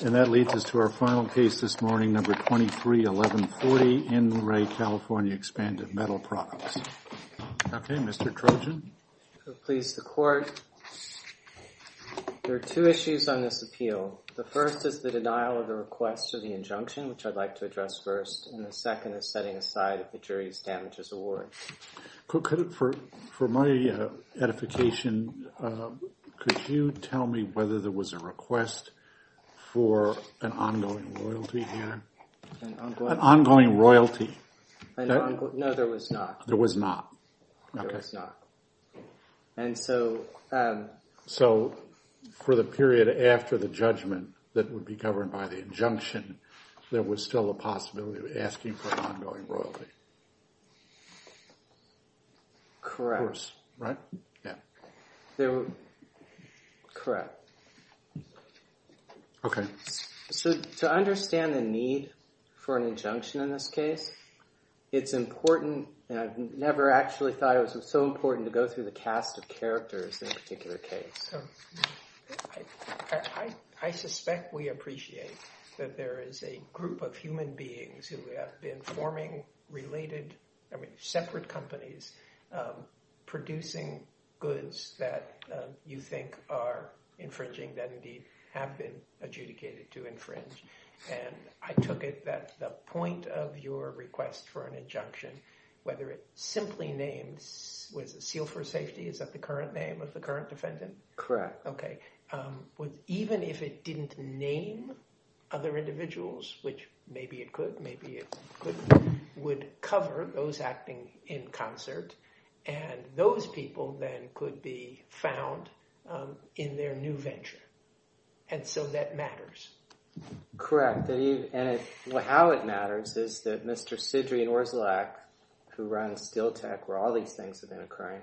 And that leads us to our final case this morning, number 231140, in Re California Expanded Metal Products. Okay, Mr. Trojan. Please, the court. There are two issues on this appeal. The first is the denial of the request for the injunction, which I'd like to address first, and the second is setting aside the jury's damages award. For my edification, could you tell me whether there was a request for an ongoing royalty here? An ongoing royalty? No, there was not. There was not. There was not. And so... So for the period after the judgment that would be governed by the injunction, there was still a possibility of asking for an ongoing royalty? Correct. Right? Yeah. There were... Correct. Okay. So to understand the need for an injunction in this case, it's important... I never actually thought it was so important to go through the cast of characters in a particular case. So I suspect we appreciate that there is a group of human beings who have been forming related... I mean, separate companies producing goods that you think are infringing, that indeed have been adjudicated to infringe. And I took it that the point of your request for an injunction, whether it simply names... Is that the current name of the current defendant? Correct. Okay. Even if it didn't name other individuals, which maybe it could, maybe it couldn't, would cover those acting in concert, and those people then could be found in their new venture. And so that matters. Correct. And how it matters is that Mr. Sidrian Orzelak, who runs SteelTech, where all these things have been occurring,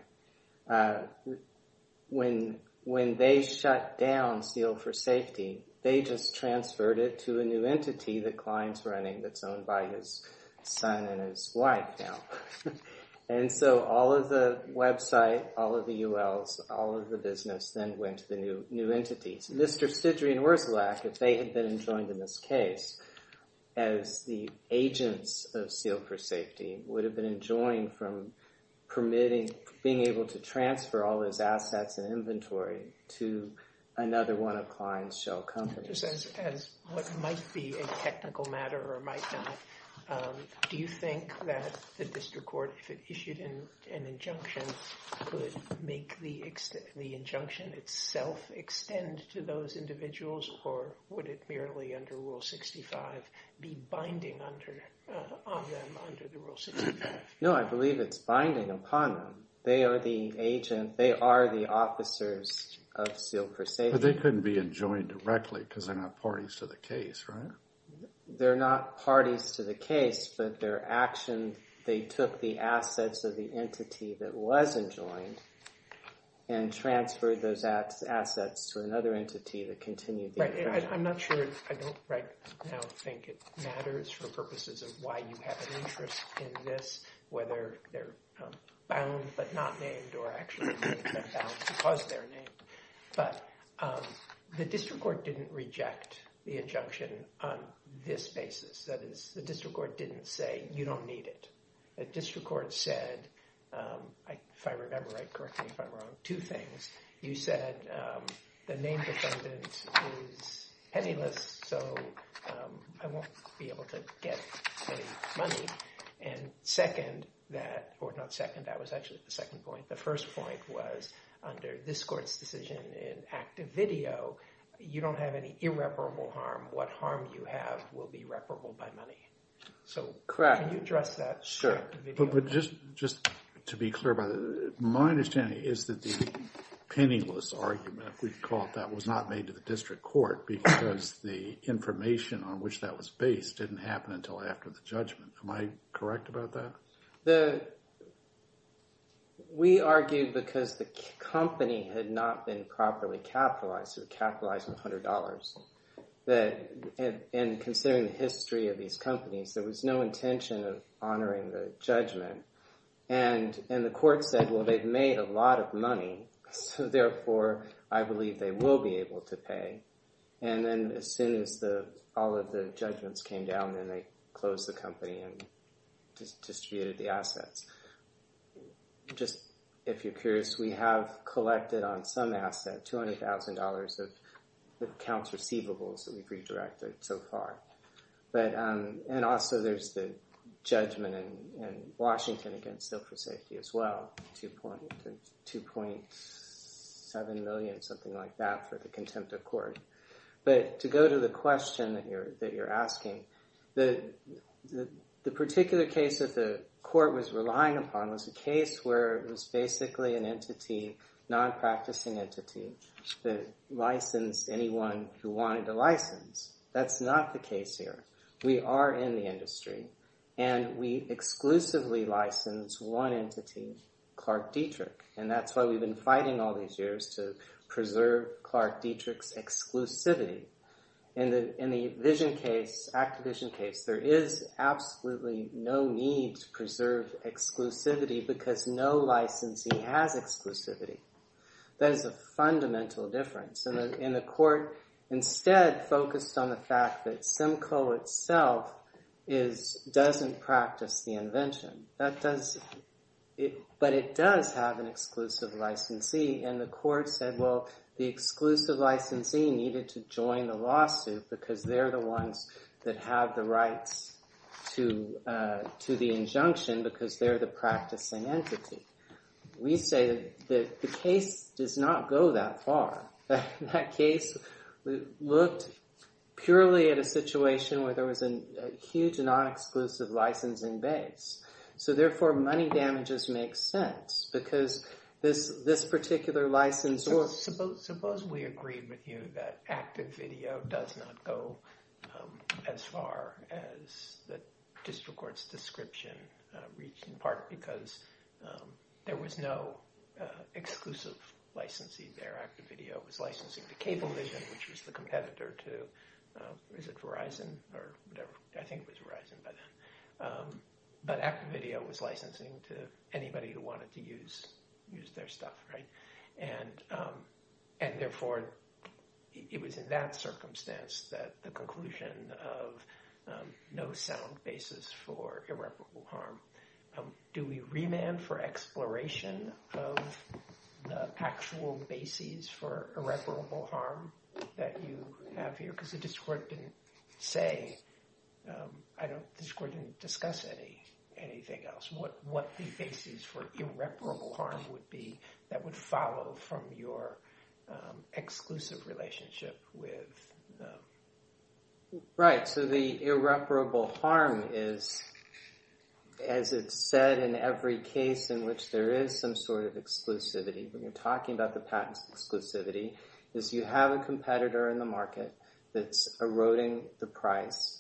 when they shut down Steel for Safety, they just transferred it to a new entity that Klein's running that's owned by his son and his wife now. And so all of the website, all of the ULs, all of the business then went to the new entities. Mr. Sidrian Orzelak, if they had been enjoined in this case as the agents of Steel for Safety, would have been enjoined from permitting, being able to transfer all those assets and inventory to another one of Klein's shell companies. Just as what might be a technical matter or might not, do you think that the district court, if it issued an injunction, could make the injunction itself extend to those individuals, or would it merely under Rule 65 be binding on them under the Rule 65? No, I believe it's binding upon them. They are the agent, they are the officers of Steel for Safety. But they couldn't be enjoined directly because they're not parties to the case, right? They're not parties to the case, but their action, they took the assets of the entity that was enjoined and transferred those assets to another entity that continued the injection. I'm not sure, I don't right now think it matters for purposes of why you have an interest in this, whether they're bound but not named or actually bound because they're named. But the district court didn't reject the injunction on this basis. That is, the district court didn't say, you don't need it. The district court said, if I remember right, correct me if I'm wrong, two things. You said the named defendant is penniless, so I won't be able to get any money. And second that, or not second, that was actually the second point. The first point was under this court's decision in active video, you don't have any irreparable harm. What harm you have will be reparable by money. So can you address that? But just to be clear about it, my understanding is that the penniless argument, if we could call it that, was not made to the district court because the information on which that was based didn't happen until after the judgment. Am I correct about that? We argued because the company had not been properly capitalized, capitalized with $100, and considering the history of these companies, there was no intention of honoring the judgment. And the court said, well, they've made a lot of money, so therefore I believe they will be able to pay. And then as soon as all of the judgments came down, then they closed the company and distributed the assets. Just if you're curious, we have collected on some asset $200,000 of accounts receivables that we've redirected so far. And also there's the judgment in Washington against Silk for Safety as well, $2.7 million, something like that, for the contempt of court. But to go to the question that you're asking, the particular case that the court was relying upon was a case where it was basically an entity, non-practicing entity, that licensed anyone who wanted a license. That's not the case here. We are in the industry, and we exclusively license one entity, Clark Dietrich. And that's why we've been fighting all these years to preserve Clark Dietrich's exclusivity. In the vision case, active vision case, there is absolutely no need to preserve exclusivity because no licensee has exclusivity. That is a fundamental difference. And the court instead focused on the fact that Simcoe itself doesn't practice the invention. But it does have an exclusive licensee, and the court said, well, the exclusive licensee needed to join the lawsuit because they're the ones that have the rights to the injunction because they're the practicing entity. We say that the case does not go that far. That case looked purely at a situation where there was a huge non-exclusive licensing base. So therefore, money damages make sense because this particular license works. Suppose we agreed with you that active video does not go as far as the district court's description reached, in part because there was no exclusive licensee there. Active video was licensing to Cablevision, which was the competitor to Verizon or whatever. I think it was Verizon by then. But active video was licensing to anybody who wanted to use their stuff. And therefore, it was in that circumstance that the conclusion of no sound basis for irreparable harm. Do we remand for exploration of the actual basis for irreparable harm that you have here? Because the district court didn't discuss anything else. What the basis for irreparable harm would be that would follow from your exclusive relationship with them? Right. So the irreparable harm is, as it's said in every case in which there is some sort of exclusivity, when you're talking about the patent's exclusivity, is you have a competitor in the market that's eroding the price.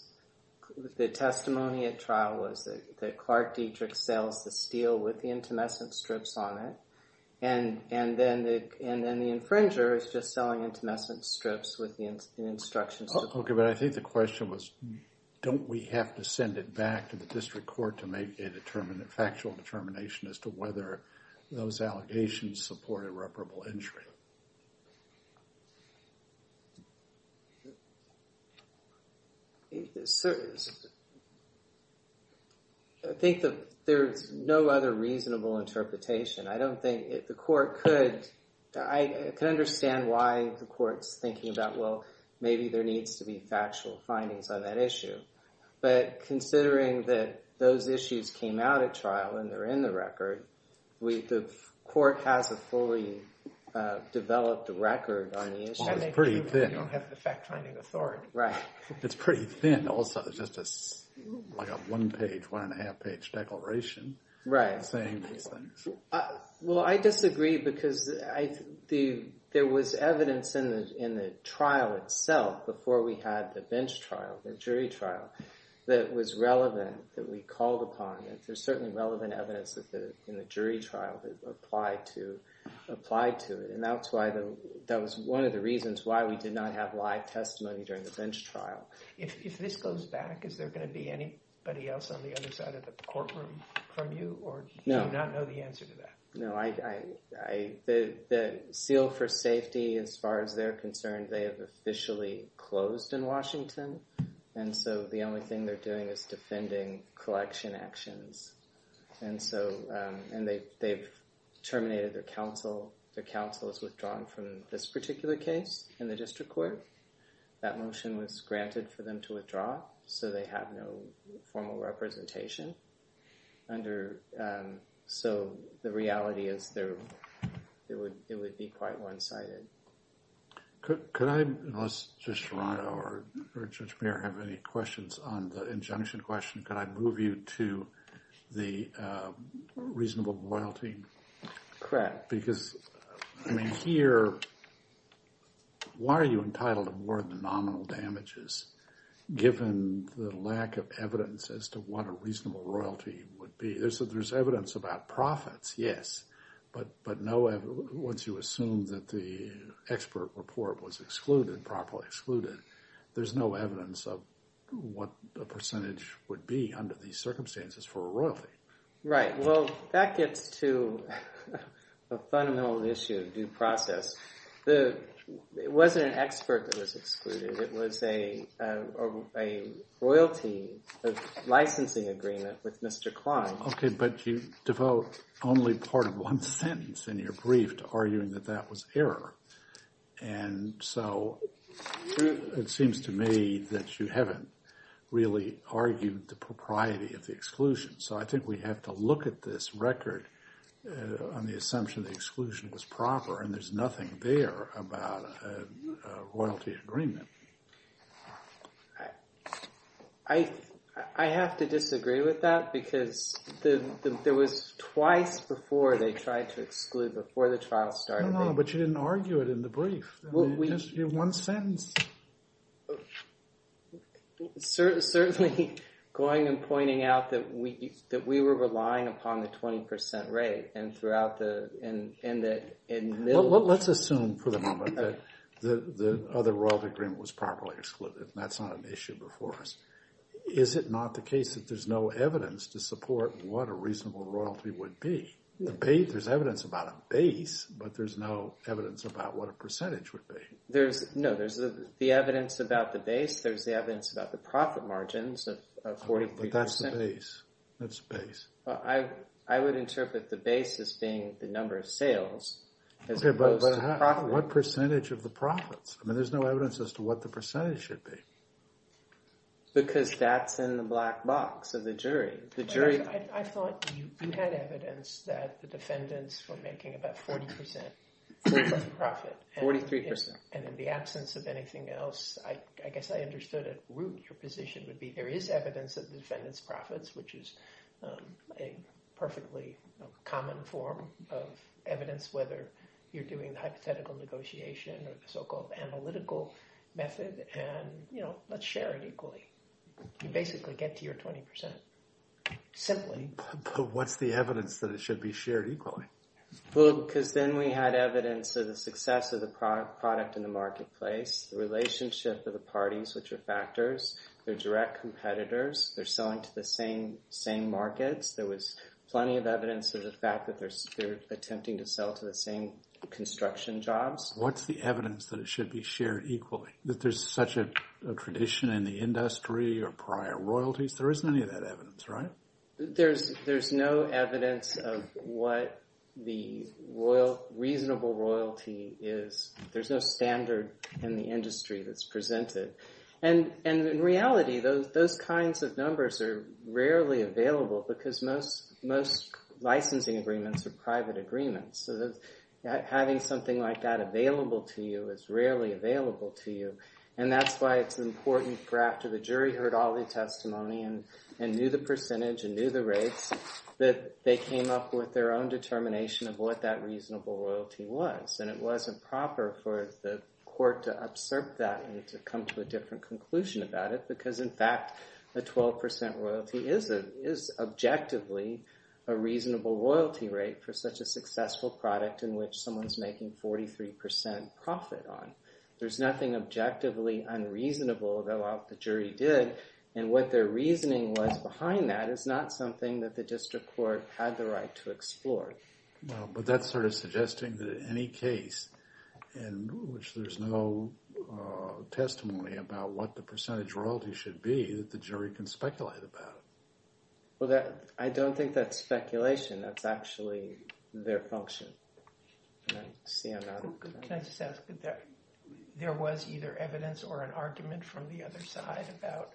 The testimony at trial was that Clark Dietrich sells the steel with the intumescent strips on it, and then the infringer is just selling intumescent strips with the instructions. Okay, but I think the question was, don't we have to send it back to the district court to make a factual determination as to whether those allegations support irreparable injury? I think that there's no other reasonable interpretation. I don't think the court could... I can understand why the court's thinking about, well, maybe there needs to be factual findings on that issue. But considering that those issues came out at trial and they're in the record, the court has a fully developed record on the issue. Well, it's pretty thin. You don't have the fact-finding authority. It's pretty thin also. It's just a one-page, one-and-a-half-page declaration saying these things. Well, I disagree because there was evidence in the trial itself before we had the bench trial, the jury trial, that was relevant, that we called upon. There's certainly relevant evidence in the jury trial that applied to it. And that was one of the reasons why we did not have live testimony during the bench trial. If this goes back, is there going to be anybody else on the other side of the courtroom from you? Or do you not know the answer to that? No. The Seal for Safety, as far as they're concerned, they have officially closed in Washington. And so the only thing they're doing is defending collection actions. And they've terminated their counsel. Their counsel is withdrawn from this particular case in the district court. That motion was granted for them to withdraw, so they have no formal representation. So the reality is it would be quite one-sided. Could I, unless Judge Serrano or Judge Mayer have any questions on the injunction question, could I move you to the reasonable loyalty? Correct. Because here, why are you entitled to more than nominal damages given the lack of evidence as to what a reasonable royalty would be? There's evidence about profits, yes. But once you assume that the expert report was excluded, properly excluded, there's no evidence of what the percentage would be under these circumstances for a royalty. Right. Well, that gets to a fundamental issue of due process. It wasn't an expert that was excluded. It was a royalty licensing agreement with Mr. Klein. Okay, but you devote only part of one sentence in your brief to arguing that that was error. And so it seems to me that you haven't really argued the propriety of the exclusion. So I think we have to look at this record on the assumption the exclusion was proper, and there's nothing there about a royalty agreement. I have to disagree with that because there was twice before they tried to exclude, before the trial started. No, no, but you didn't argue it in the brief. You just gave one sentence. Certainly, going and pointing out that we were relying upon the 20% rate and that in the middle of the… Well, let's assume for the moment that the other royalty agreement was properly excluded, and that's not an issue before us. Is it not the case that there's no evidence to support what a reasonable royalty would be? There's evidence about a base, but there's no evidence about what a percentage would be. No, there's the evidence about the base. There's the evidence about the profit margins of 43%. But that's the base. Well, I would interpret the base as being the number of sales as opposed to profit. Okay, but what percentage of the profits? I mean, there's no evidence as to what the percentage should be. Because that's in the black box of the jury. I thought you had evidence that the defendants were making about 40% of the profit. 43%. And in the absence of anything else, I guess I understood at root your position would be there is evidence that the defendants' profits, which is a perfectly common form of evidence, whether you're doing the hypothetical negotiation or the so-called analytical method, and let's share it equally. You basically get to your 20%. Simply. But what's the evidence that it should be shared equally? Well, because then we had evidence of the success of the product in the marketplace, the relationship of the parties, which are factors. They're direct competitors. They're selling to the same markets. There was plenty of evidence of the fact that they're attempting to sell to the same construction jobs. What's the evidence that it should be shared equally? That there's such a tradition in the industry or prior royalties? There isn't any of that evidence, right? There's no evidence of what the reasonable royalty is. There's no standard in the industry that's presented. And in reality, those kinds of numbers are rarely available because most licensing agreements are private agreements. So having something like that available to you is rarely available to you. And that's why it's important for after the jury heard all the testimony and knew the percentage and knew the rates, that they came up with their own determination of what that reasonable royalty was. And it wasn't proper for the court to absorb that and to come to a different conclusion about it because, in fact, the 12% royalty is objectively a reasonable royalty rate for such a successful product in which someone's making 43% profit on. There's nothing objectively unreasonable about what the jury did. And what their reasoning was behind that is not something that the district court had the right to explore. But that's sort of suggesting that in any case in which there's no testimony about what the percentage royalty should be, that the jury can speculate about it. Well, I don't think that's speculation. That's actually their function. Can I just ask that there was either evidence or an argument from the other side about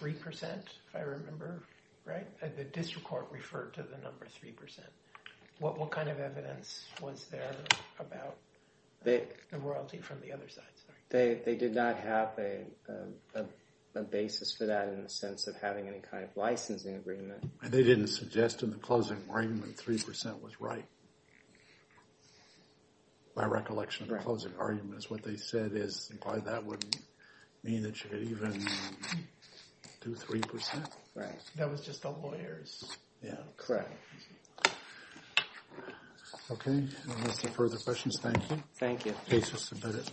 3%, if I remember right? The district court referred to the number 3%. What kind of evidence was there about the royalty from the other side? They did not have a basis for that in the sense of having any kind of licensing agreement. They didn't suggest in the closing argument 3% was right. By recollection of the closing arguments, what they said is that wouldn't mean that you could even do 3%. Right. That was just the lawyers. Yeah, correct. Okay, unless there are further questions, thank you. Thank you. Case is submitted.